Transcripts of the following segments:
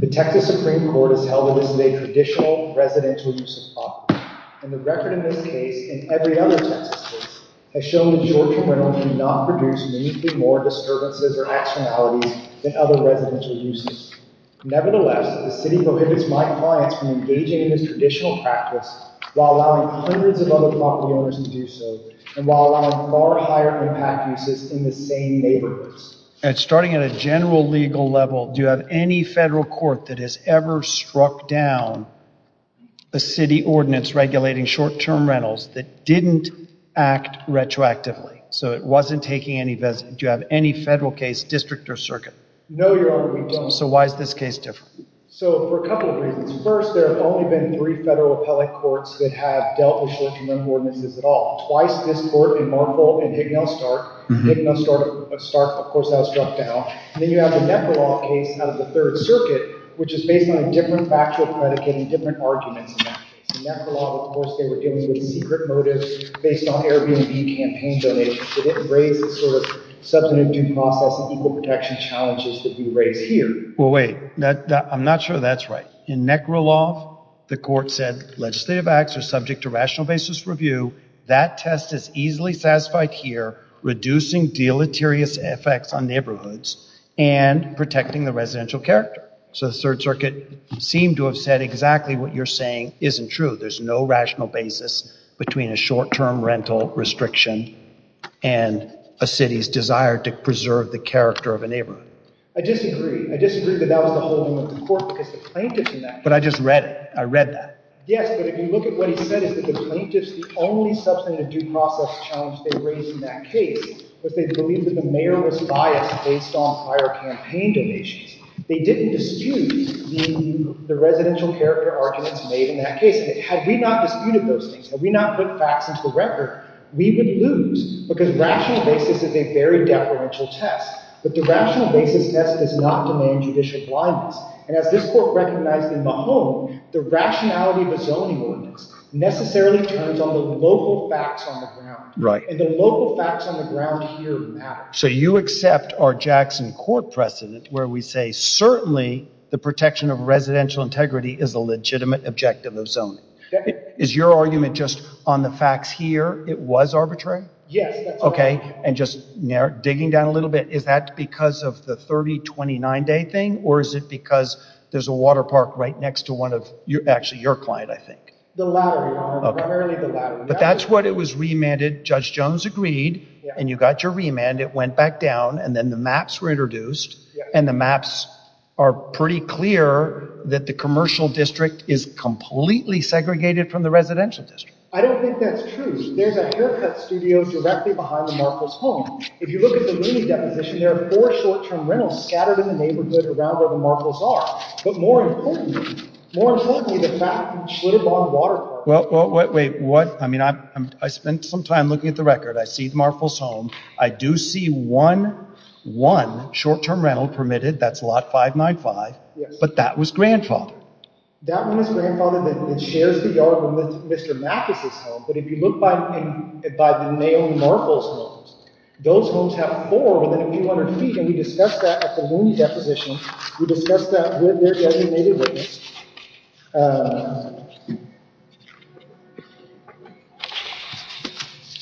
The Texas Supreme Court has held that this is a traditional, residential use of property. And the record in this case, and every other Texas case, has shown that Georgia rentals generally do not produce more disturbances or accidentalities than other residential uses. Nevertheless, the City prohibits my clients from engaging in this traditional practice while allowing hundreds of other property owners to do so, and while allowing far higher impact uses in the same neighborhoods. Starting at a general legal level, do you have any federal court that has ever struck down a City ordinance regulating short-term rentals that didn't act retroactively? So it wasn't taking any... Do you have any federal case, district, or circuit? No, Your Honor, we don't. So why is this case different? So, for a couple of reasons. First, there have only been three federal appellate courts that have dealt with short-term rental ordinances at all. Twice, this court in Marfil and Hicknall-Stark. Hicknall-Stark, of course, has struck down. Then you have the Netherlands case out of the Third Circuit, which is based on a different factual predicate and different arguments in that case. In Nekrolov, of course, they were dealing with secret motives based on Airbnb campaign donations. They didn't raise the sort of substantive due process and equal protection challenges that we raise here. Well, wait. I'm not sure that's right. In Nekrolov, the court said legislative acts are subject to rational basis review. That test is easily satisfied here, reducing deleterious effects on neighborhoods and protecting the residential character. So the Third Circuit seemed to have said exactly what you're saying isn't true. There's no rational basis between a short-term rental restriction and a city's desire to preserve the character of a neighborhood. I disagree. I disagree that that was the whole deal with the court because the plaintiffs in that case— But I just read it. I read that. Yes, but if you look at what he said, it's that the plaintiffs, the only substantive due process challenge they raised in that case was they believed that the mayor was biased based on higher campaign donations. They didn't dispute the residential character arguments made in that case. Had we not disputed those things, had we not put facts into the record, we would lose because rational basis is a very deferential test, but the rational basis test does not demand judicial blindness. And as this court recognized in Mahone, the rationality of a zoning ordinance necessarily turns on the local facts on the ground. And the local facts on the ground here matter. So you accept our Jackson Court precedent where we say, certainly the protection of residential integrity is a legitimate objective of zoning. Is your argument just on the facts here, it was arbitrary? Yes, that's right. Okay, and just digging down a little bit, is that because of the 30-29-day thing, or is it because there's a water park right next to one of—actually, your client, I think. The latter, Your Honor, primarily the latter. But that's what it was remanded. Judge Jones agreed, and you got your remand. It went back down, and then the maps were introduced, and the maps are pretty clear that the commercial district is completely segregated from the residential district. I don't think that's true. There's a haircut studio directly behind the Marples home. If you look at the Mooney deposition, there are four short-term rentals scattered in the neighborhood around where the Marples are. But more importantly, more importantly, the fact that you should have bought a water park— Well, wait. I spent some time looking at the record. I see the Marples home. I do see one short-term rental permitted. That's lot 595. But that was grandfathered. That one is grandfathered, and it shares the yard with Mr. Mathis' home. But if you look by the male Marples homes, those homes have four within a few hundred feet, and we discussed that at the Mooney deposition. We discussed that with their designated witness.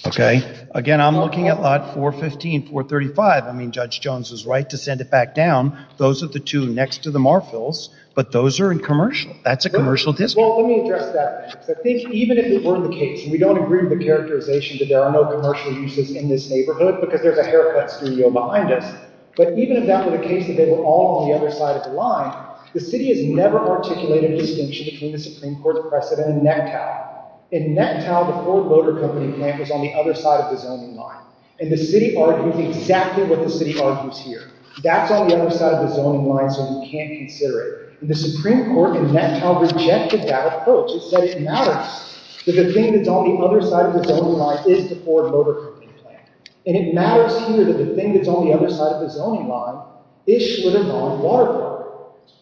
Okay. Again, I'm looking at lot 415, 435. I mean, Judge Jones was right to send it back down. Those are the two next to the Marples, but those are in commercial. That's a commercial district. Well, let me address that. I think even if it were the case— and we don't agree with the characterization that there are no commercial uses in this neighborhood because there's a haircut studio behind us— but even if that were the case that they were all on the other side of the line, the city has never articulated a distinction between the Supreme Court's precedent and NetTow. In NetTow, the Ford Motor Company plant was on the other side of the zoning line, and the city argues exactly what the city argues here. That's on the other side of the zoning line, so we can't consider it. The Supreme Court in NetTow rejected that approach. It said it matters that the thing that's on the other side of the zoning line is the Ford Motor Company plant, and it matters here that the thing that's on the other side of the zoning line is Schlitter-Dahn Water Corridor.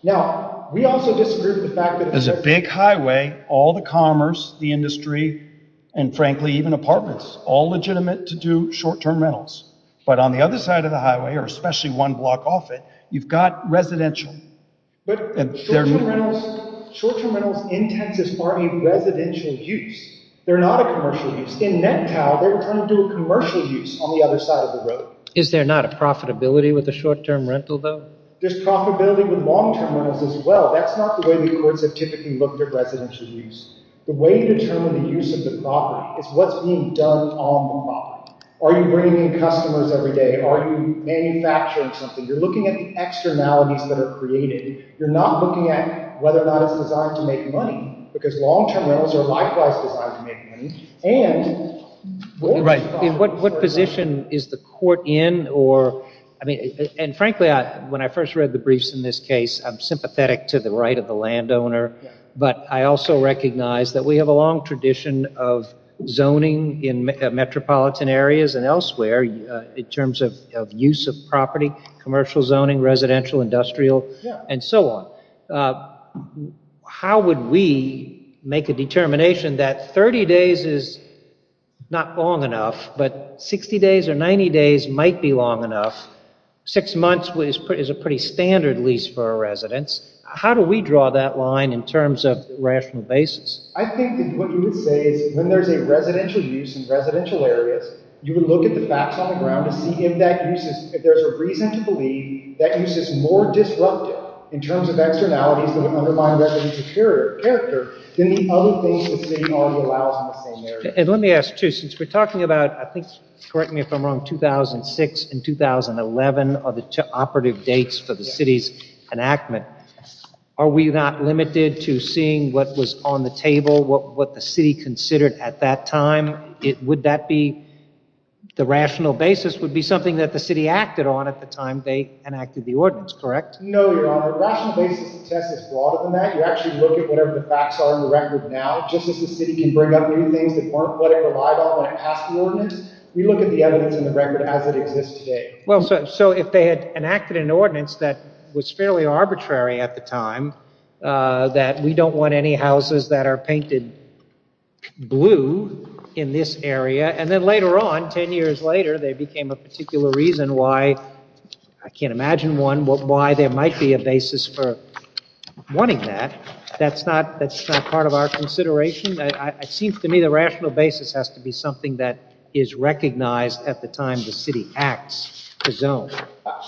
Now, we also disagree with the fact that— There's a big highway, all the commerce, the industry, and frankly, even apartments, all legitimate to do short-term rentals. But on the other side of the highway, or especially one block off it, you've got residential. But short-term rentals in Texas are a residential use. They're not a commercial use. In NetTow, they're trying to do a commercial use on the other side of the road. Is there not a profitability with a short-term rental, though? There's profitability with long-term rentals as well. That's not the way the courts have typically looked at residential use. The way you determine the use of the property is what's being done on the property. Are you bringing in customers every day? Are you manufacturing something? You're looking at the externalities that are created. You're not looking at whether or not it's designed to make money, because long-term rentals are likewise designed to make money. And what position is the court in? And frankly, when I first read the briefs in this case, I'm sympathetic to the right of the landowner. But I also recognize that we have a long tradition of zoning in metropolitan areas and elsewhere in terms of use of property, commercial zoning, residential, industrial, and so on. How would we make a determination that 30 days is not long enough, but 60 days or 90 days might be long enough? Six months is a pretty standard lease for a residence. How do we draw that line in terms of rational basis? I think that what you would say is when there's a residential use in residential areas, you would look at the facts on the ground to see if there's a reason to believe that use is more disruptive in terms of externalities that would undermine residence character than the other things the city already allows in the same area. And let me ask, too, since we're talking about, I think, correct me if I'm wrong, 2006 and 2011 are the operative dates for the city's enactment. Are we not limited to seeing what was on the table, what the city considered at that time? Would that be the rational basis? The rational basis would be something that the city acted on at the time they enacted the ordinance, correct? No, Your Honor. The rational basis of the test is broader than that. You actually look at whatever the facts are in the record now. Just as the city can bring up new things that weren't what it relied on when it passed the ordinance, we look at the evidence in the record as it exists today. So if they had enacted an ordinance that was fairly arbitrary at the time, that we don't want any houses that are painted blue in this area, and then later on, 10 years later, they became a particular reason why, I can't imagine one, why there might be a basis for wanting that. That's not part of our consideration. It seems to me the rational basis has to be something that is recognized at the time the city acts to zone.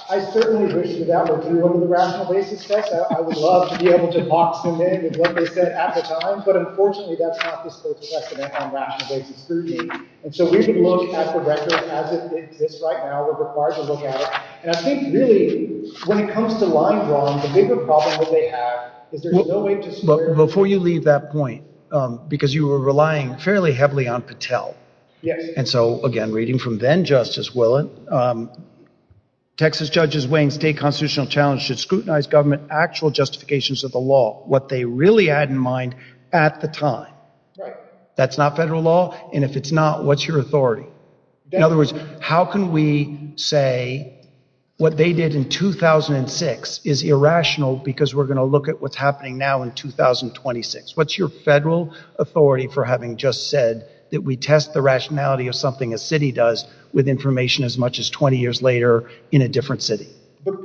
I certainly wish that that were true of the rational basis test. I would love to be able to box them in with what they said at the time, but unfortunately that's not the case on rational basis scrutiny. So we would look at the record as it exists right now, we're required to look at it, and I think really, when it comes to line drawing, the bigger problem that they have is there's no way to square it. Before you leave that point, because you were relying fairly heavily on Patel, and so again, reading from then-Justice Willett, Texas judges weighing state constitutional challenge should scrutinize government actual justifications of the law. What they really had in mind at the time. That's not federal law, and if it's not, what's your authority? In other words, how can we say what they did in 2006 is irrational because we're going to look at what's happening now in 2026? What's your federal authority for having just said that we test the rationality of something a city does with information as much as 20 years later in a different city?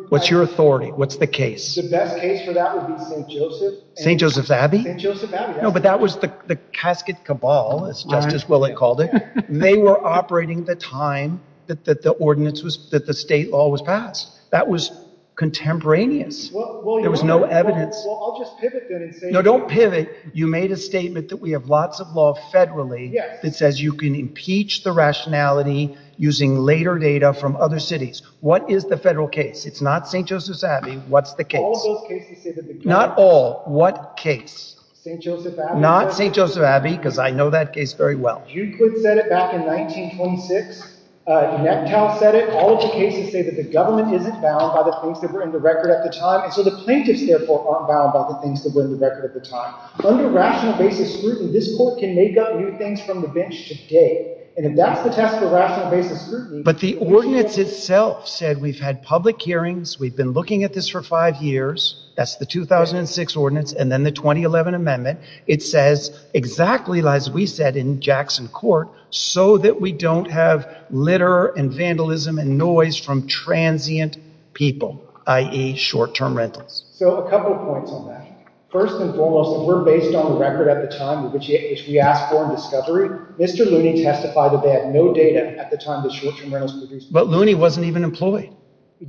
What's your authority? What's the case? The best case for that would be St. Joseph's. St. Joseph's Abbey? St. Joseph's Abbey, yes. No, but that was the casket cabal, as Justice Willett called it. They were operating the time that the state law was passed. That was contemporaneous. There was no evidence. Well, I'll just pivot then and say… No, don't pivot. You made a statement that we have lots of law federally that says you can impeach the rationality using later data from other cities. What is the federal case? It's not St. Joseph's Abbey. What's the case? All of those cases say that the government… Not all. What case? St. Joseph's Abbey. Not St. Joseph's Abbey because I know that case very well. You said it back in 1926. Nectow said it. All of the cases say that the government isn't bound by the things that were in the record at the time, and so the plaintiffs, therefore, aren't bound by the things that were in the record at the time. Under rational basis scrutiny, this court can make up new things from the bench today, and if that's the test for rational basis scrutiny… But the ordinance itself said we've had public hearings. We've been looking at this for five years. That's the 2006 ordinance and then the 2011 amendment. It says exactly as we said in Jackson Court so that we don't have litter and vandalism and noise from transient people, i.e. short-term rentals. So a couple of points on that. First and foremost, if we're based on record at the time, which we asked for in discovery, Mr. Looney testified that they had no data at the time the short-term rentals were produced. But Looney wasn't even employed.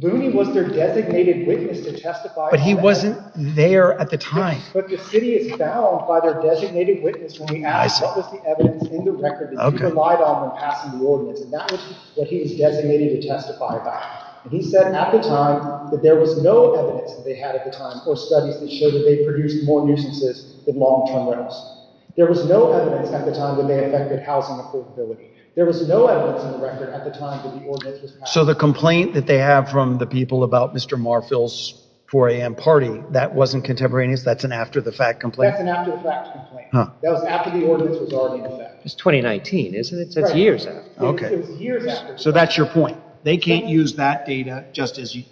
Looney was their designated witness to testify. But he wasn't there at the time. But the city is bound by their designated witness when we ask what was the evidence in the record that you relied on when passing the ordinance, and that was what he was designated to testify about. He said at the time that there was no evidence that they had at the time or studies that showed that they produced more nuisances than long-term rentals. There was no evidence at the time that they affected housing affordability. There was no evidence in the record at the time that the ordinance was passed. So the complaint that they have from the people about Mr. Marfil's 4 a.m. party, that wasn't contemporaneous? That's an after-the-fact complaint? That's an after-the-fact complaint. That was after the ordinance was already in effect. It's 2019, isn't it? So it's years after. So that's your point. They can't use that data just as you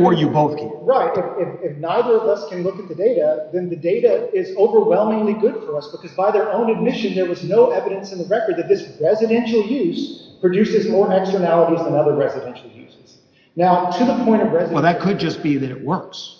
or you both can. Right. If neither of us can look at the data, then the data is overwhelmingly good for us because by their own admission there was no evidence in the record that this residential use produces more externalities than other residential uses. Well, that could just be that it works.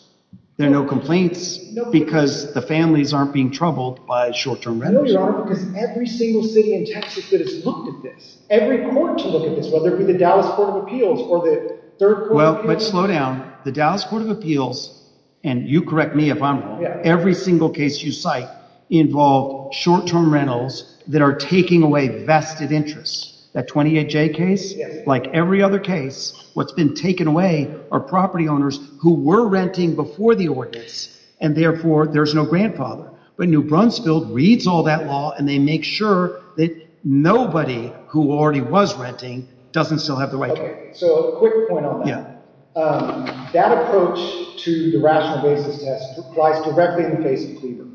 There are no complaints because the families aren't being troubled by short-term rentals. No, there aren't, because every single city in Texas that has looked at this, every court to look at this, whether it be the Dallas Court of Appeals or the Third Court… Well, but slow down. The Dallas Court of Appeals, and you correct me if I'm wrong, every single case you cite involved short-term rentals that are taking away vested interests. That 28J case, like every other case, what's been taken away are property owners who were renting before the ordinance, and therefore there's no grandfather. But New Brunsfield reads all that law and they make sure that nobody who already was renting doesn't still have the right to rent. Okay, so a quick point on that. That approach to the rational basis test applies directly in the case of Cleaver.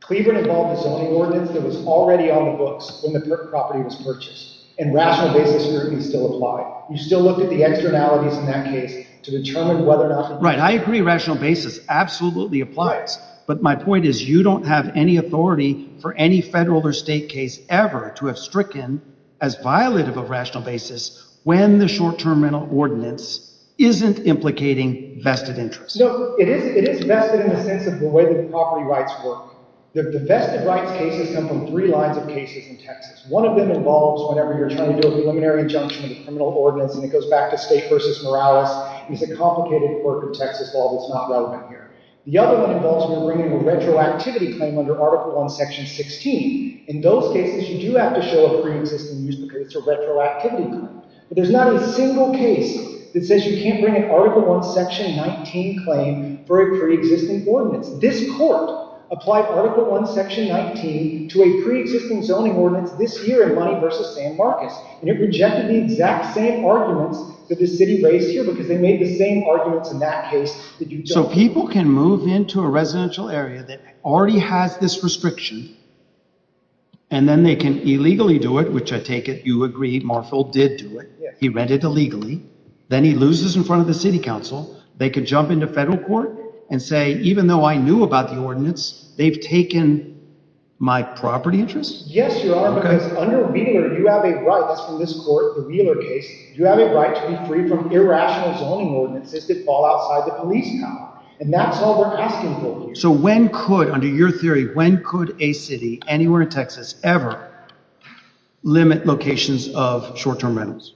Cleaver involved a zoning ordinance that was already on the books when the property was purchased, and rational basis certainly still applied. You still looked at the externalities in that case to determine whether or not… Right, I agree rational basis absolutely applies, but my point is you don't have any authority for any federal or state case ever to have stricken as violent of a rational basis when the short-term rental ordinance isn't implicating vested interests. You know, it is vested in the sense of the way that property rights work. The vested rights cases come from three lines of cases in Texas. One of them involves whenever you're trying to do a preliminary injunction in a criminal ordinance and it goes back to state versus morales. It's a complicated court of Texas law that's not relevant here. The other one involves when you're bringing a retroactivity claim under Article I, Section 16. In those cases, you do have to show a pre-existing use because it's a retroactivity claim. But there's not a single case that says you can't bring an Article I, Section 19 claim for a pre-existing ordinance. This court applied Article I, Section 19 to a pre-existing zoning ordinance this year in Money v. San Marcos, and it rejected the exact same arguments that the city raised here because they made the same arguments in that case. So people can move into a residential area that already has this restriction and then they can illegally do it, which I take it you agree Marfil did do it. He rented illegally. Then he loses in front of the city council. They could jump into federal court and say, even though I knew about the ordinance, they've taken my property interest? Yes, Your Honor, because under Wheeler, you have a right. That's from this court, the Wheeler case. You have a right to be free from irrational zoning ordinances that fall outside the police power, and that's all we're asking for here. So when could, under your theory, when could a city anywhere in Texas ever limit locations of short-term rentals?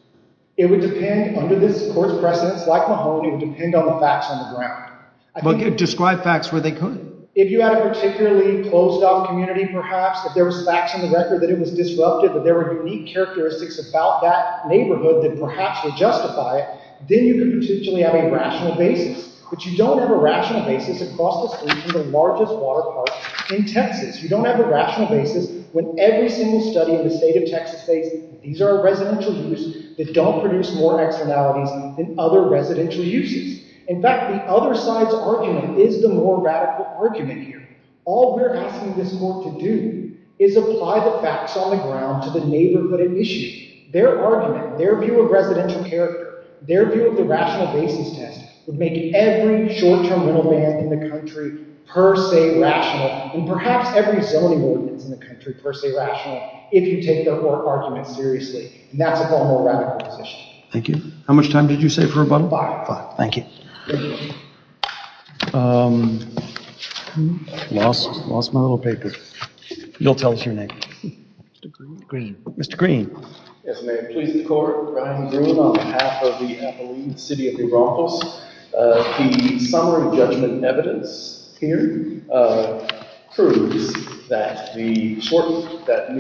It would depend. Under this court's precedence, like Mahoney, it would depend on the facts on the ground. Describe facts where they could. If you had a particularly closed-off community, perhaps, if there was facts on the record that it was disrupted, that there were unique characteristics about that neighborhood that perhaps would justify it, then you could potentially have a rational basis. But you don't have a rational basis across the state from the largest water park in Texas. You don't have a rational basis when every single study in the state of Texas states these are residential uses that don't produce more exonalities than other residential uses. In fact, the other side's argument is the more radical argument here. All we're asking this court to do is apply the facts on the ground to the neighborhood at issue. Their argument, their view of residential character, their view of the rational basis test would make every short-term rental van in the country per se rational, and perhaps every zoning ordinance in the country per se rational, if you take their court argument seriously. And that's a far more radical position. Thank you. How much time did you say for rebuttal? Five. Five. Thank you. Lost my little paper. You'll tell us your name. Mr. Green. Mr. Green. Yes, ma'am. Please, the court. Brian Green on behalf of the Appalachian City of New Braunfels. The summary judgment evidence here proves that New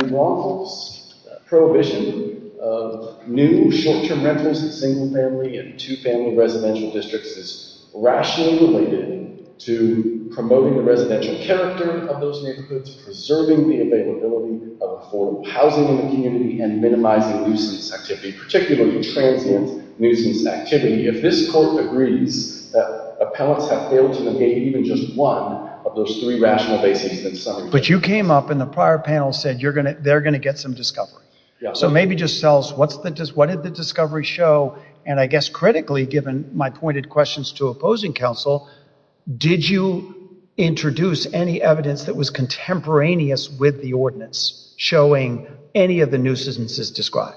Braunfels' prohibition of new short-term rentals in single-family and two-family residential districts is rationally related to promoting the residential character of those neighborhoods, preserving the availability of affordable housing in the community, and minimizing nuisance activity, particularly transient nuisance activity. If this court agrees that appellants have failed to negate even just one of those three rational bases in the summary judgment. But you came up and the prior panel said they're going to get some discovery. So maybe just tell us, what did the discovery show? And I guess critically, given my pointed questions to opposing counsel, did you introduce any evidence that was contemporaneous with the ordinance showing any of the nuisances described?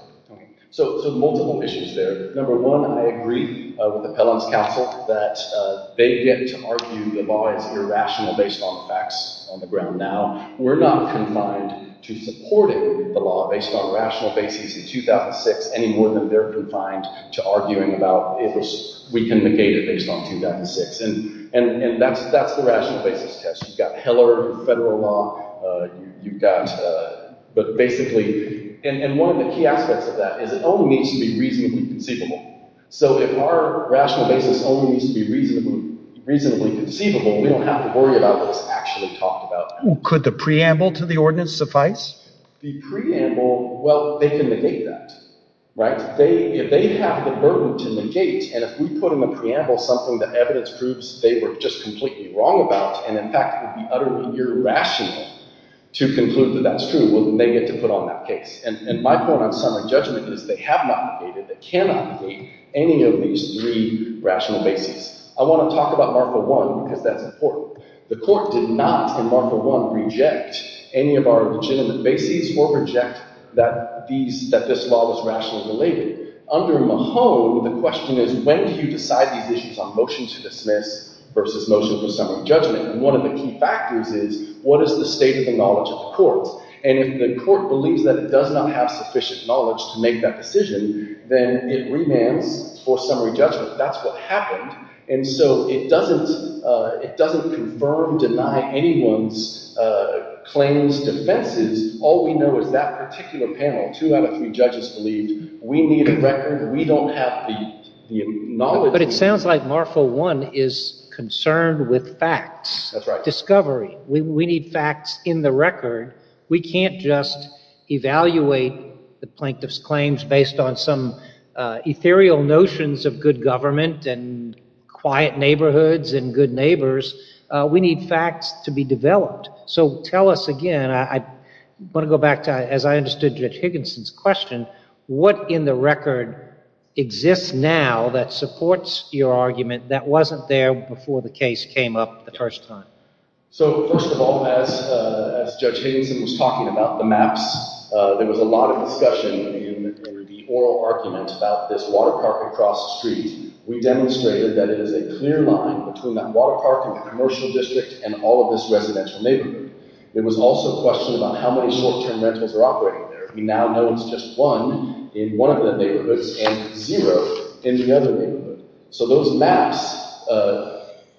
So multiple issues there. Number one, I agree with the appellant's counsel that they get to argue the law is irrational based on the facts on the ground now. We're not confined to supporting the law based on rational bases in 2006 any more than they're confined to arguing about if we can negate it based on 2006. And that's the rational basis test. You've got Heller federal law. You've got – but basically – and one of the key aspects of that is it only needs to be reasonably conceivable. So if our rational basis only needs to be reasonably conceivable, we don't have to worry about what's actually talked about. Could the preamble to the ordinance suffice? The preamble, well, they can negate that. If they have the burden to negate, and if we put in a preamble something that evidence proves they were just completely wrong about, and in fact would be utterly irrational to conclude that that's true, well, then they get to put on that case. And my point on summary judgment is they have not negated. They cannot negate any of these three rational bases. I want to talk about Marker 1 because that's important. The court did not, in Marker 1, reject any of our legitimate bases or reject that this law was rationally related. Under Mahone, the question is when do you decide these issues on motion to dismiss versus motion for summary judgment? And one of the key factors is what is the state of the knowledge of the court? And if the court believes that it does not have sufficient knowledge to make that decision, then it remands for summary judgment. That's what happened. And so it doesn't confirm, deny anyone's claims, defenses. All we know is that particular panel, two out of three judges, believed we need a record. We don't have the knowledge. But it sounds like Marker 1 is concerned with facts. That's right. Discovery. We need facts in the record. We can't just evaluate the plaintiff's claims based on some ethereal notions of good government and quiet neighborhoods and good neighbors. We need facts to be developed. So tell us again, I want to go back to, as I understood Judge Higginson's question, what in the record exists now that supports your argument that wasn't there before the case came up the first time? So, first of all, as Judge Higginson was talking about the maps, there was a lot of discussion in the oral argument about this water park across the street. We demonstrated that it is a clear line between that water park and the commercial district and all of this residential neighborhood. There was also a question about how many short-term rentals are operating there. We now know it's just one in one of the neighborhoods and zero in the other neighborhood. So those maps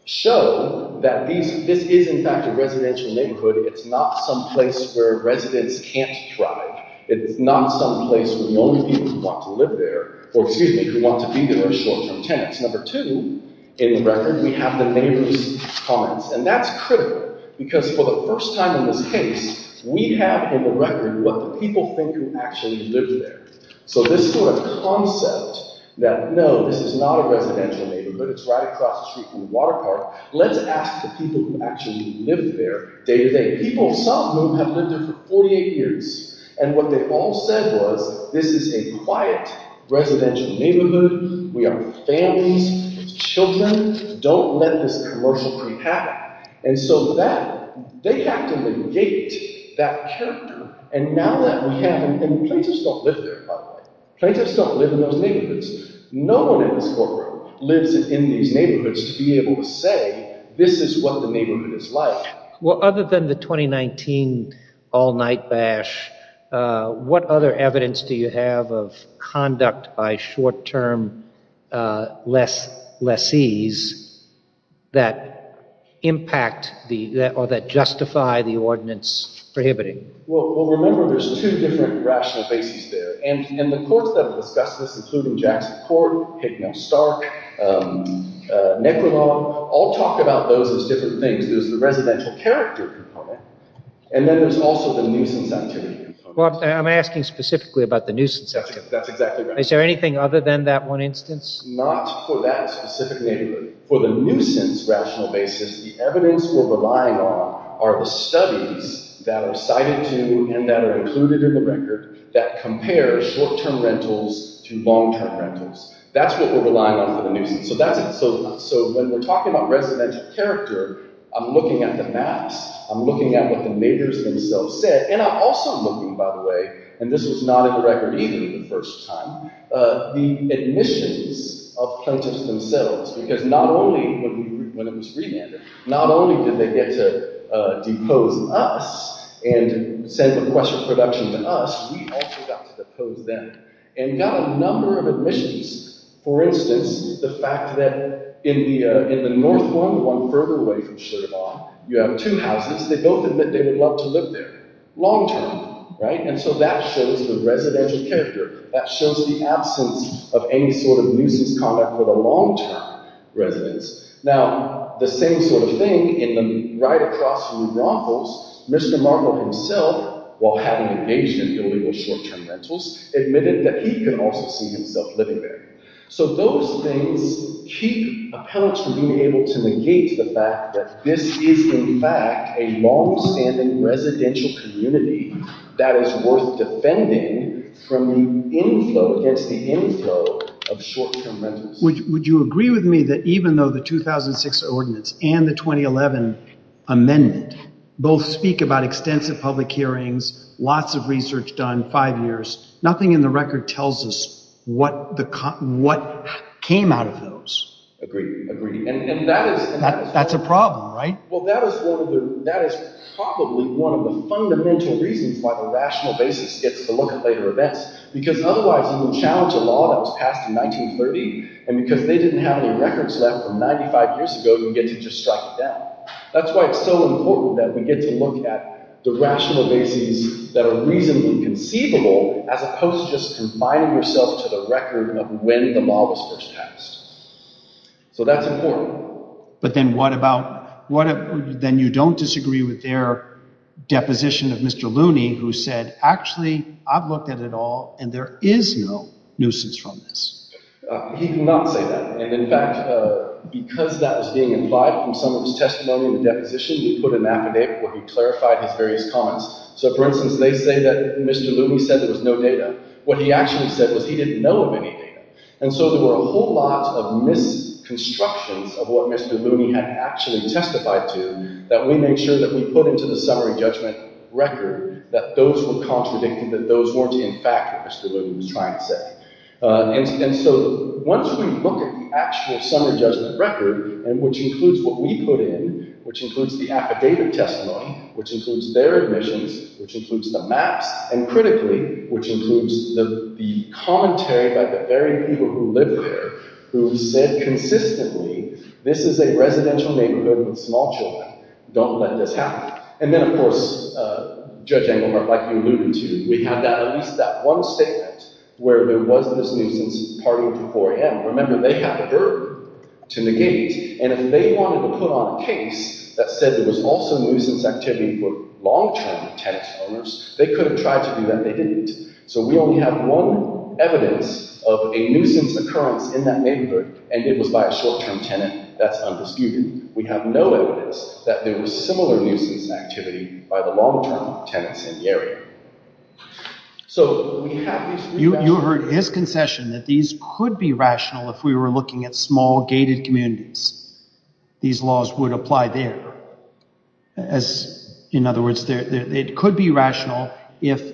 show that this is, in fact, a residential neighborhood. It's not some place where residents can't thrive. It's not some place where the only people who want to live there or, excuse me, who want to be there are short-term tenants. Number two in the record, we have the neighbor's comments, and that's critical because for the first time in this case, we have in the record what the people think who actually live there. So this sort of concept that, no, this is not a residential neighborhood. It's right across the street from the water park. Let's ask the people who actually live there day to day. People, some of them, have lived there for 48 years, and what they all said was this is a quiet residential neighborhood. We are families with children. Don't let this commercial creep happen. And so they have to negate that character, and plaintiffs don't live there, by the way. Plaintiffs don't live in those neighborhoods. No one in this courtroom lives in these neighborhoods to be able to say this is what the neighborhood is like. Well, other than the 2019 all-night bash, what other evidence do you have of conduct by short-term lessees that impact or that justify the ordinance prohibiting? Well, remember, there's two different rational bases there, and the courts that have discussed this, including Jackson Court, Hickman-Stark, Necrolaw, all talk about those as different things. There's the residential character component, and then there's also the nuisance activity component. Well, I'm asking specifically about the nuisance activity. That's exactly right. Is there anything other than that one instance? Not for that specific neighborhood. For the nuisance rational basis, the evidence we're relying on are the studies that are cited to and that are included in the record that compare short-term rentals to long-term rentals. That's what we're relying on for the nuisance. So when we're talking about residential character, I'm looking at the maps. I'm looking at what the neighbors themselves said, and I'm also looking, by the way, and this was not in the Record 80 the first time, the admissions of plaintiffs themselves, because not only when it was remanded, not only did they get to depose us and send the question of production to us, we also got to depose them and got a number of admissions. For instance, the fact that in the north one, one further away from Sheraton, you have two houses. They both admit they would love to live there long-term, right? And so that shows the residential character. That shows the absence of any sort of nuisance conduct for the long-term residents. Now, the same sort of thing, right across from New Braunfels, Mr. Markle himself, while having engaged in building those short-term rentals, admitted that he could also see himself living there. So those things keep appellants from being able to negate the fact that this is, in fact, a long-standing residential community that is worth defending from the inflow, against the inflow of short-term rentals. Would you agree with me that even though the 2006 ordinance and the 2011 amendment both speak about extensive public hearings, lots of research done, five years, nothing in the record tells us what came out of those. Agreed. Agreed. And that is... That's a problem, right? Well, that is probably one of the fundamental reasons why the rational basis gets to look at later events, because otherwise you would challenge a law that was passed in 1930, and because they didn't have any records left from 95 years ago, you get to just strike it down. That's why it's so important that we get to look at the rational basis that are reasonably conceivable as opposed to just confining yourself to the record of when the law was first passed. So that's important. But then what about... Then you don't disagree with their deposition of Mr. Looney, who said, actually, I've looked at it all, and there is no nuisance from this. He did not say that. And, in fact, because that was being implied from some of his testimony in the deposition, he put an affidavit where he clarified his various comments. So, for instance, they say that Mr. Looney said there was no data. What he actually said was he didn't know of any data. And so there were a whole lot of misconstructions of what Mr. Looney had actually testified to that we made sure that we put into the summary judgment record that those were contradicted, that those weren't, in fact, what Mr. Looney was trying to say. And so once we look at the actual summary judgment record, which includes what we put in, which includes the affidavit testimony, which includes their admissions, which includes the maps, and, critically, which includes the commentary by the very people who lived there, who said consistently, this is a residential neighbourhood with small children. Don't let this happen. And then, of course, Judge Engelhardt, like we alluded to, we have at least that one statement where there was this nuisance partying till 4 a.m. Remember, they had the verb, to negate. And if they wanted to put on a case that said there was also nuisance activity for long-term tenant owners, they could have tried to do that. They didn't. So we only have one evidence of a nuisance occurrence in that neighbourhood, and it was by a short-term tenant. That's undisputed. We have no evidence that there was similar nuisance activity by the long-term tenants in the area. You heard his concession that these could be rational if we were looking at small, gated communities. These laws would apply there. As, in other words, it could be rational if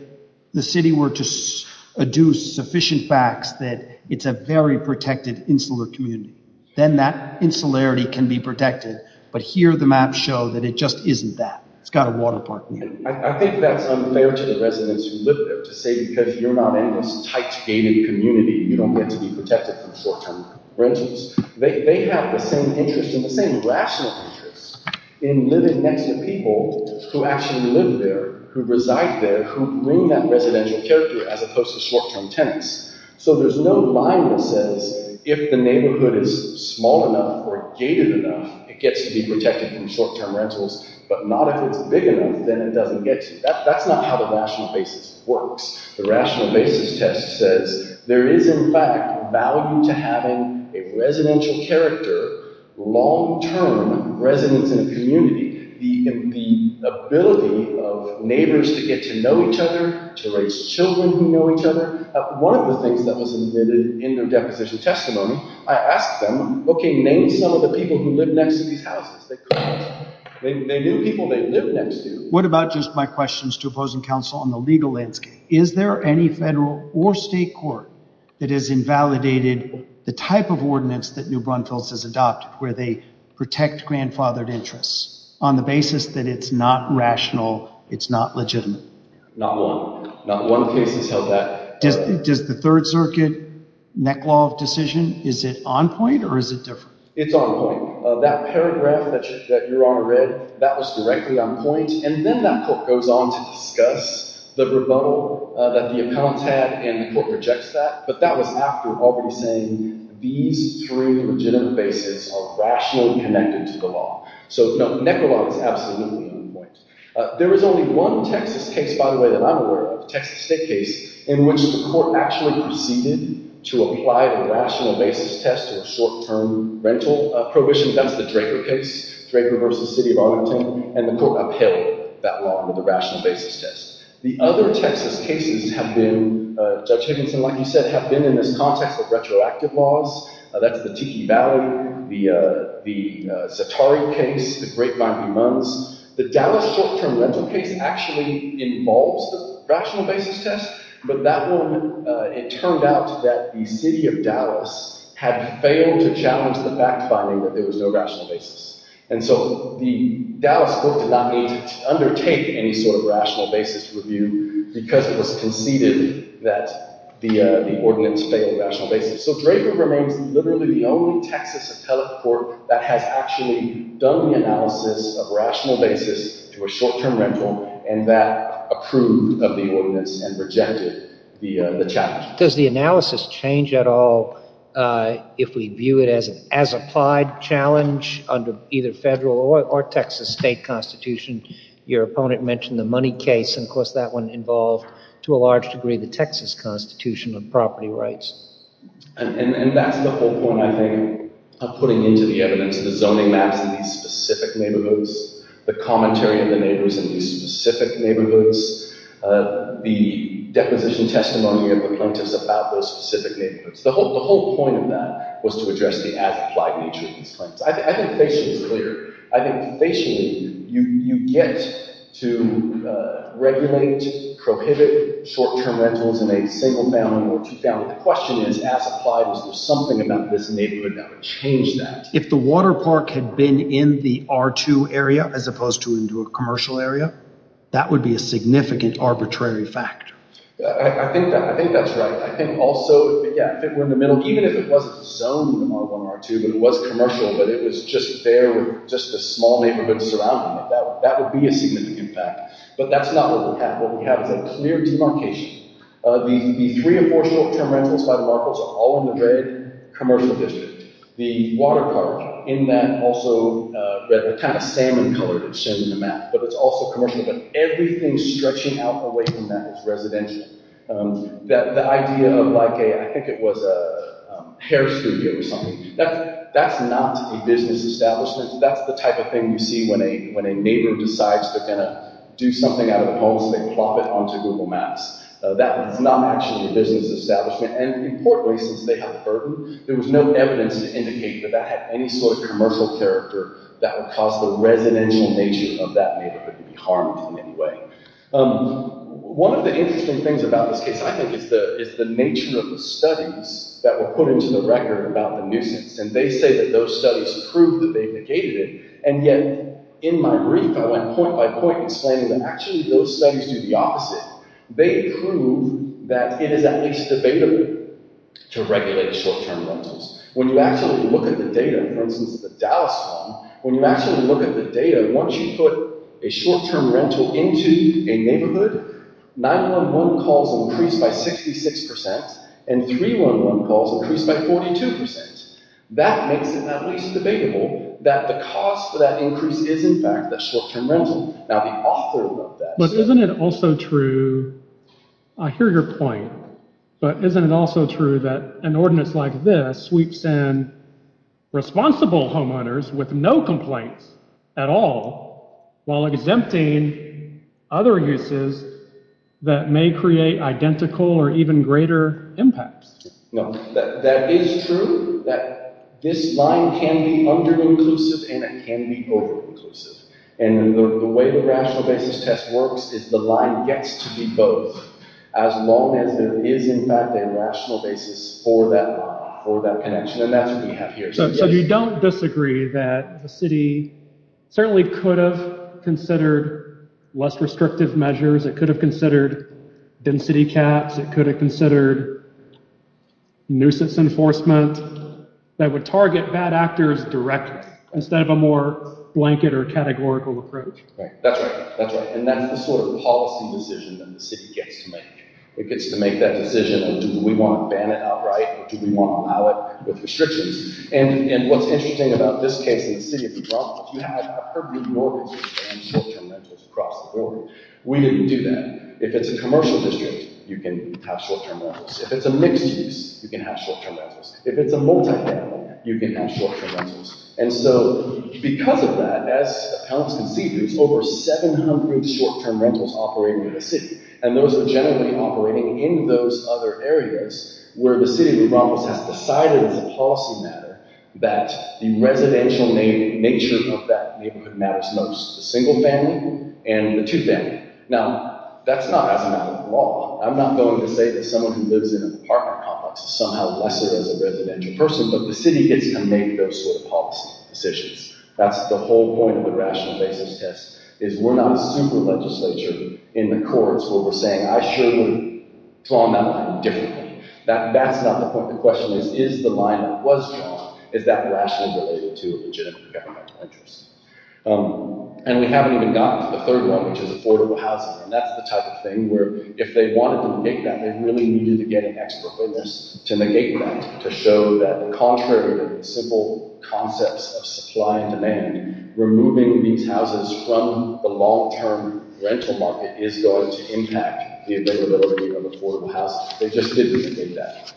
the city were to adduce sufficient facts that it's a very protected, insular community. Then that insularity can be protected. But here, the maps show that it just isn't that. It's got a water park near it. I think that's unfair to the residents who live there to say because you're not in this tight, gated community, you don't get to be protected from short-term renters. They have the same interest and the same rational interest in living next to people who actually live there, who reside there, who bring that residential character as opposed to short-term tenants. So there's no line that says if the neighborhood is small enough or gated enough, it gets to be protected from short-term rentals, but not if it's big enough, then it doesn't get to. That's not how the rational basis works. The rational basis test says there is, in fact, value to having a residential character, long-term residents in a community, the ability of neighbors to get to know each other, to raise children who know each other. One of the things that was admitted in their deposition testimony, I asked them, okay, name some of the people who live next to these houses. They couldn't. They knew people they lived next to. What about just my questions to opposing counsel on the legal landscape? Is there any federal or state court that has invalidated the type of ordinance that New Braunfels has adopted where they protect grandfathered interests on the basis that it's not rational, it's not legitimate? Not one. Not one case has held that. Does the Third Circuit neck law decision, is it on point or is it different? It's on point. That paragraph that Your Honor read, that was directly on point, and then that court goes on to discuss the rebuttal that the account had, and the court rejects that, but that was after already saying these three legitimate bases are rationally connected to the law. So, no, neck law is absolutely on point. There is only one Texas case, by the way, that I'm aware of, a Texas state case, in which the court actually proceeded to apply a rational basis test to a short-term rental prohibition. That's the Drager case, Drager v. City of Arlington, and the court upheld that law under the rational basis test. The other Texas cases have been, Judge Higginson, like you said, have been in this context of retroactive laws. That's the Tiki Valley, the Zaatari case, the Great Vibrant Mounds. The Dallas short-term rental case actually involves the rational basis test, but that one, it turned out that the city of Dallas had failed to challenge the fact finding that there was no rational basis. And so the Dallas court did not need to undertake any sort of rational basis review because it was conceded that the ordinance failed rational basis. So Drager remains literally the only Texas appellate court that has actually done the analysis of rational basis to a short-term rental, and that approved of the ordinance and rejected the challenge. Does the analysis change at all if we view it as an as-applied challenge under either federal or Texas state constitution? Your opponent mentioned the Money case, and of course that one involved, to a large degree, the Texas Constitution on property rights. And that's the whole point, I think, of putting into the evidence the zoning maps in these specific neighborhoods, the commentary of the neighbors in these specific neighborhoods, the deposition testimony of the plaintiffs about those specific neighborhoods. The whole point of that was to address the as-applied nature of these claims. I think facially it's clear. I think facially you get to regulate, prohibit short-term rentals in a single-family or two-family. The question is, as applied, is there something about this neighborhood that would change that? If the water park had been in the R2 area as opposed to into a commercial area, that would be a significant arbitrary fact. I think that's right. I think also if it were in the middle, even if it wasn't zoned in R1, R2, but it was commercial, but it was just there with just a small neighborhood surrounding it, that would be a significant fact. But that's not what we have. What we have is a clear demarcation. The three or four short-term rentals by the Marcos are all in the red commercial district. The water park in that also, the kind of salmon color that's shown in the map, but it's also commercial, but everything stretching out away from that is residential. The idea of like a, I think it was a hair studio or something, that's not a business establishment. That's the type of thing you see when a neighbor decides they're going to do something out of the home, so they plop it onto Google Maps. That is not actually a business establishment. Importantly, since they have a burden, there was no evidence to indicate that that had any sort of commercial character that would cause the residential nature of that neighborhood to be harmed in any way. One of the interesting things about this case, I think, is the nature of the studies that were put into the record about the nuisance, and they say that those studies prove that they negated it, and yet, in my brief, I went point by point explaining that actually those studies do the opposite. They prove that it is at least debatable to regulate short-term rentals. When you actually look at the data, for instance, the Dallas one, when you actually look at the data, once you put a short-term rental into a neighborhood, 911 calls increased by 66%, and 311 calls increased by 42%. That makes it at least debatable that the cause for that increase is, in fact, the short-term rental. Now, the author of that said... But isn't it also true, I hear your point, but isn't it also true that an ordinance like this sweeps in responsible homeowners with no complaints at all, while exempting other uses that may create identical or even greater impacts? That is true. This line can be under-inclusive and it can be over-inclusive. And the way the rational basis test works is the line gets to be both as long as there is, in fact, a rational basis for that connection. And that's what we have here. So you don't disagree that the city certainly could have considered less restrictive measures, it could have considered density caps, it could have considered nuisance enforcement that would target bad actors directly, instead of a more blanket or categorical approach. That's right. And that's the sort of policy decision that the city gets to make. It gets to make that decision of do we want to ban it outright, or do we want to allow it with restrictions. And what's interesting about this case in the city of New Brunswick, you have appropriate mortgages and short-term rentals across the building. We didn't do that. If it's a commercial district, you can have short-term rentals. If it's a mixed-use, you can have short-term rentals. If it's a multi-family, you can have short-term rentals. And so, because of that, as appellants can see, there's over 700 short-term rentals operating in the city, and those are generally operating in those other areas where the city of New Brunswick has decided as a policy matter that the residential nature of that neighborhood matters most to the single family and the two-family. Now, that's not as a matter of law. I'm not going to say that someone who lives in an apartment complex is somehow lesser as a residential person, but the city gets to make those sort of policy decisions. That's the whole point of the rational basis test, is we're not a super legislature in the courts where we're saying, I sure would draw that line differently. That's not the point. The question is, is the line that was drawn, is that rationally related to a legitimate governmental interest? And we haven't even gotten to the third one, which is affordable housing, and that's the type of thing where if they wanted to negate that, they really needed to get an expert witness to negate that, to show that the contrary of the simple concepts of supply and demand, removing these houses from the long-term rental market is going to impact the availability of affordable housing. They just didn't negate that.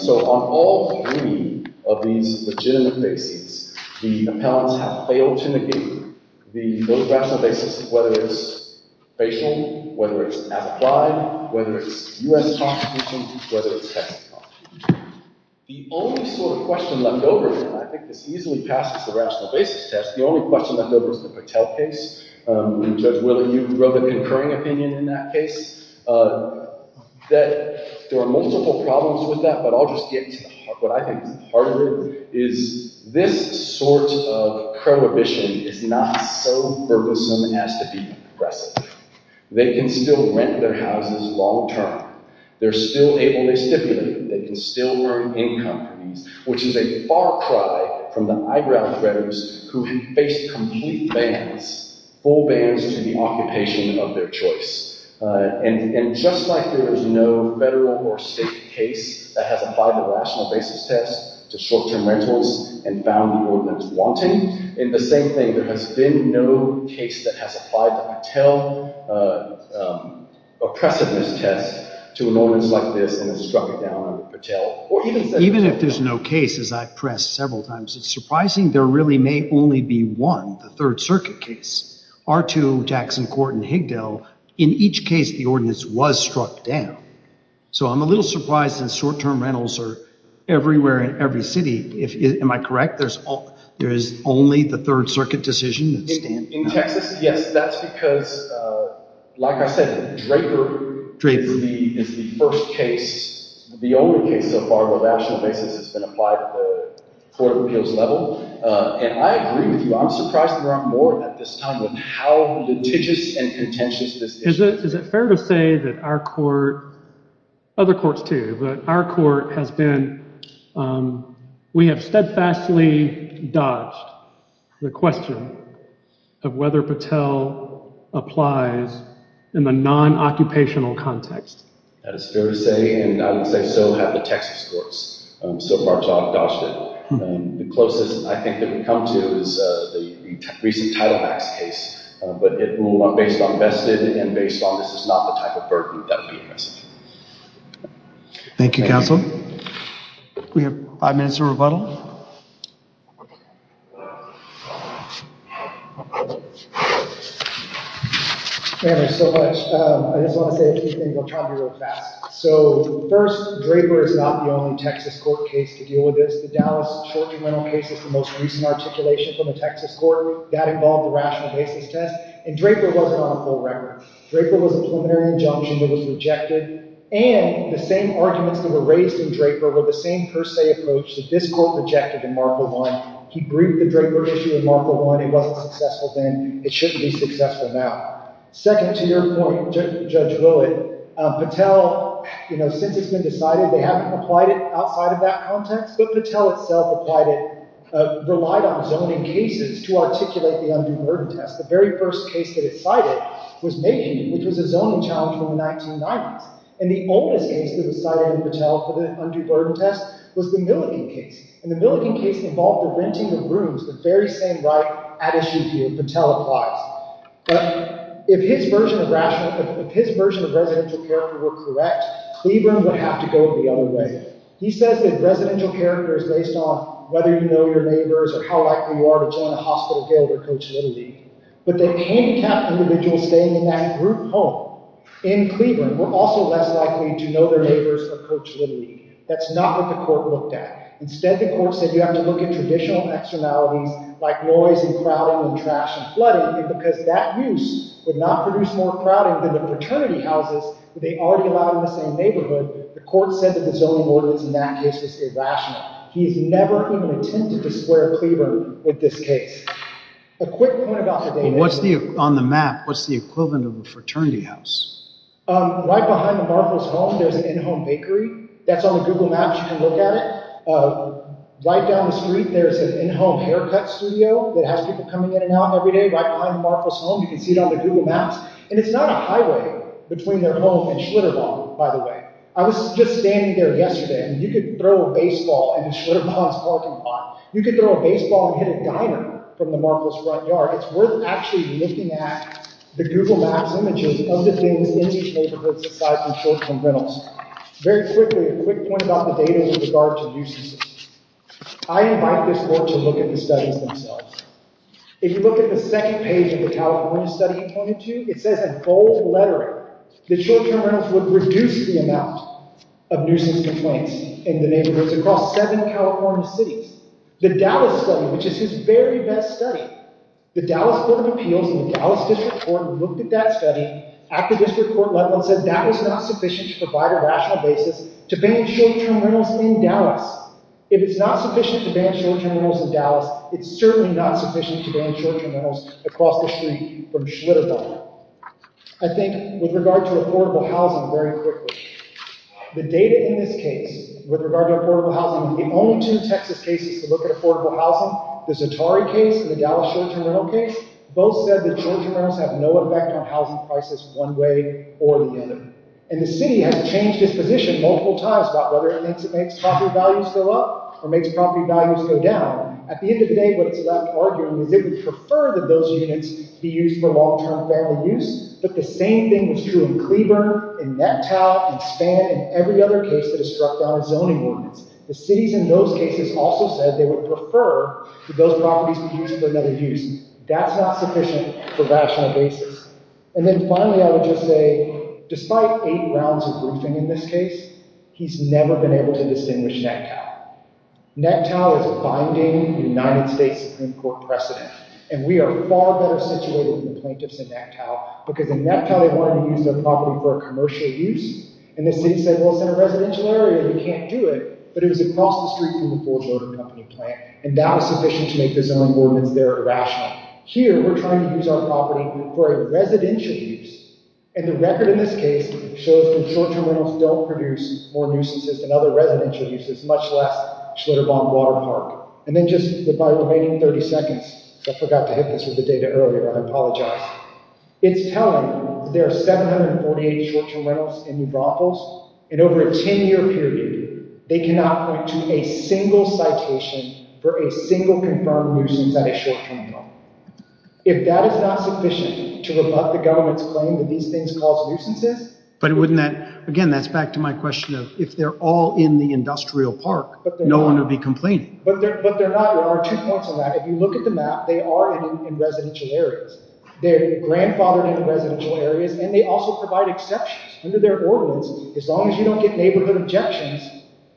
So on all three of these legitimate bases, the appellants have failed to negate the rational basis of whether it's facial, whether it's as-applied, whether it's U.S. constitution, whether it's tax law. The only sort of question left over, and I think this easily passes the rational basis test, the only question left over is the Patel case. Judge Willey, you wrote a concurring opinion in that case. There are multiple problems with that, but I'll just get to the heart. What I think is the heart of it is this sort of prohibition is not so purposeful as to be aggressive. They can still rent their houses long-term. They're still able to stipulate. They can still turn in companies, which is a far cry from the eyebrow threaders who have faced complete bans, full bans to the occupation of their choice. And just like there was no federal or state case that has applied the rational basis test to short-term rentals and found the ordinance wanting, the same thing, there has been no case that has applied the Patel oppressiveness test to an ordinance like this that has struck it down under Patel. Even if there's no case, as I've pressed several times, it's surprising there really may only be one, the Third Circuit case. R2, Jackson Court, and Higdell, in each case the ordinance was struck down. So I'm a little surprised that short-term rentals are everywhere in every city. Am I correct? There is only the Third Circuit decision that stands out. Yes, that's because like I said, Draper is the first case, the only case so far where rational basis has been applied at the court of appeals level. And I agree with you, I'm surprised there aren't more at this time with how litigious and contentious this is. Is it fair to say that our court, other courts too, but our court has been, we have steadfastly dodged the question of whether Patel applies in the non-occupational context? That is fair to say, and I would say so have the Texas courts. So far it's all dodged it. The closest I think it would come to is the recent Title Max case, but it ruled on based on vested and based on this is not the type of burden that would be invested. Thank you, counsel. We have five minutes of rebuttal. Thank you so much. I just want to say a few things. I'll try to be real fast. So first, Draper is not the only Texas court case to deal with this. The Dallas church rental case is the most recent articulation from the Texas court. That involved the rational basis test, and Draper wasn't on a full record. Draper was a preliminary injunction that was rejected, and the same arguments that were raised in Draper were the same per se approach that this court rejected in Marker 1. He briefed the Draper issue in Marker 1. It wasn't successful then. It shouldn't be successful now. Second, to your point, Judge Willett, Patel, you know, since it's been decided they haven't applied it outside of that context, but Patel itself applied it, relied on zoning cases to articulate the undue burden test. The very first case that it cited was Mahan, which was a zoning challenge from the 1990s, and the oldest case that was cited in Patel for the undue burden test was the Milligan case, and the Milligan case involved the renting of rooms the very same right at issue that Patel applies. If his version of residential character were correct, Cleveland would have to go the other way. He says that residential character is based on whether you know your neighbors or how likely you are to join a hospital guild or Coach Little League, but the handicapped individuals staying in that group home in Cleveland were also less likely to know their neighbors or Coach Little League. That's not what the court looked at. Instead, the court said you have to look at traditional externalities like noise and crowding and trash and flooding, and because that use would not produce more crowding than the fraternity houses they already allowed in the same neighborhood, the court said that the zoning ordinance in that case was irrational. He has never even attempted to square Cleveland with this case. A quick point about the data. On the map, what's the equivalent of a Right behind the Marples home, there's an in-home bakery. That's on the Google Maps. You can look at it. Right down the street, there's an in-home haircut studio that has people coming in and out every day. Right behind the Marples home, you can see it on the Google Maps, and it's not a highway between their home and Schlitterbahn, by the way. I was just standing there yesterday, and you could throw a baseball into Schlitterbahn's parking lot. You could throw a baseball and hit a diner from the Marples front yard. It's worth actually looking at the Google Maps images of the things in these neighborhoods aside from short-term rentals. Very quickly, a quick point about the data with regard to nuisance. I invite this court to look at the studies themselves. If you look at the second page of the California study he pointed to, it says in bold lettering that short-term rentals would reduce the amount of nuisance complaints in the neighborhoods across seven California cities. The Dallas study, which is his very best study, the Dallas Court of Appeals in the Dallas District Court looked at that study at the District Court level and said that was not sufficient to provide a rational basis to ban short-term rentals in Dallas. If it's not sufficient to ban short-term rentals in Dallas, it's certainly not sufficient to ban short-term rentals across the street from Schlitterbahn. I think with regard to affordable housing, very quickly, the data in this case with regard to affordable housing, the only two Texas cases to look at affordable housing, the Zatari case and the Dallas short-term rental case, both said that short-term rentals have no effect on housing prices one way or the other. And the city has changed its position multiple times about whether it thinks it makes property values go up or makes property values go down. At the end of the day, what it's left arguing is it would prefer that those units be used for long-term family use, but the same thing was true in Cleburne, in Neptow, in Spann, and every other case that has struck down its zoning ordinance. The cities in those cases also said they would prefer that those properties be used for another use. That's not sufficient for rational basis. And then finally, I would just say, despite eight rounds of briefing in this case, he's never been able to distinguish Neptow. Neptow is a binding United States Supreme Court precedent, and we are far better situated than the plaintiffs in Neptow, because in Neptow they wanted to use their property for a commercial use, and the city said, well, it's in a residential area, you can't do it, but it was across the street from the Ford Motor Company plant, and that was sufficient to make the zoning ordinance there irrational. Here, we're trying to use our property for a residential use, and the record in this case shows that short-term rentals don't produce more nuisances than other residential uses, much less Schlitterbaum Water Park. And then just by remaining 30 seconds, I forgot to hit this with the data earlier, I apologize. It's telling that there are 748 short-term rentals in New Braunfels, and over a 10-year period, they cannot point to a single citation for a single confirmed nuisance at a short-term home. If that is not sufficient to rebut the government's claim that these things cause nuisances... But wouldn't that... again, that's back to my question of, if they're all in the industrial park, no one would be complaining. But they're not. There are two points on that. If you look at the map, they are in residential areas. They're grandfathered in residential areas, and they also provide exceptions under their ordinance. As long as you don't get neighborhood objections,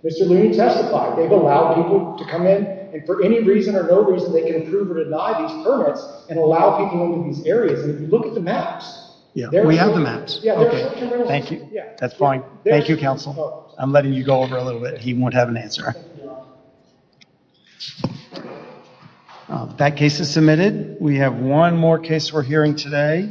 Mr. Looney testified. They've allowed people to come in, and for any reason or no reason, they can approve or deny these permits, and allow people into these areas. And if you look at the maps... Yeah, we have the maps. Thank you. That's fine. Thank you, Counsel. I'm letting you go over a little bit. He won't have an answer. That case is submitted. We have one more case we're hearing today.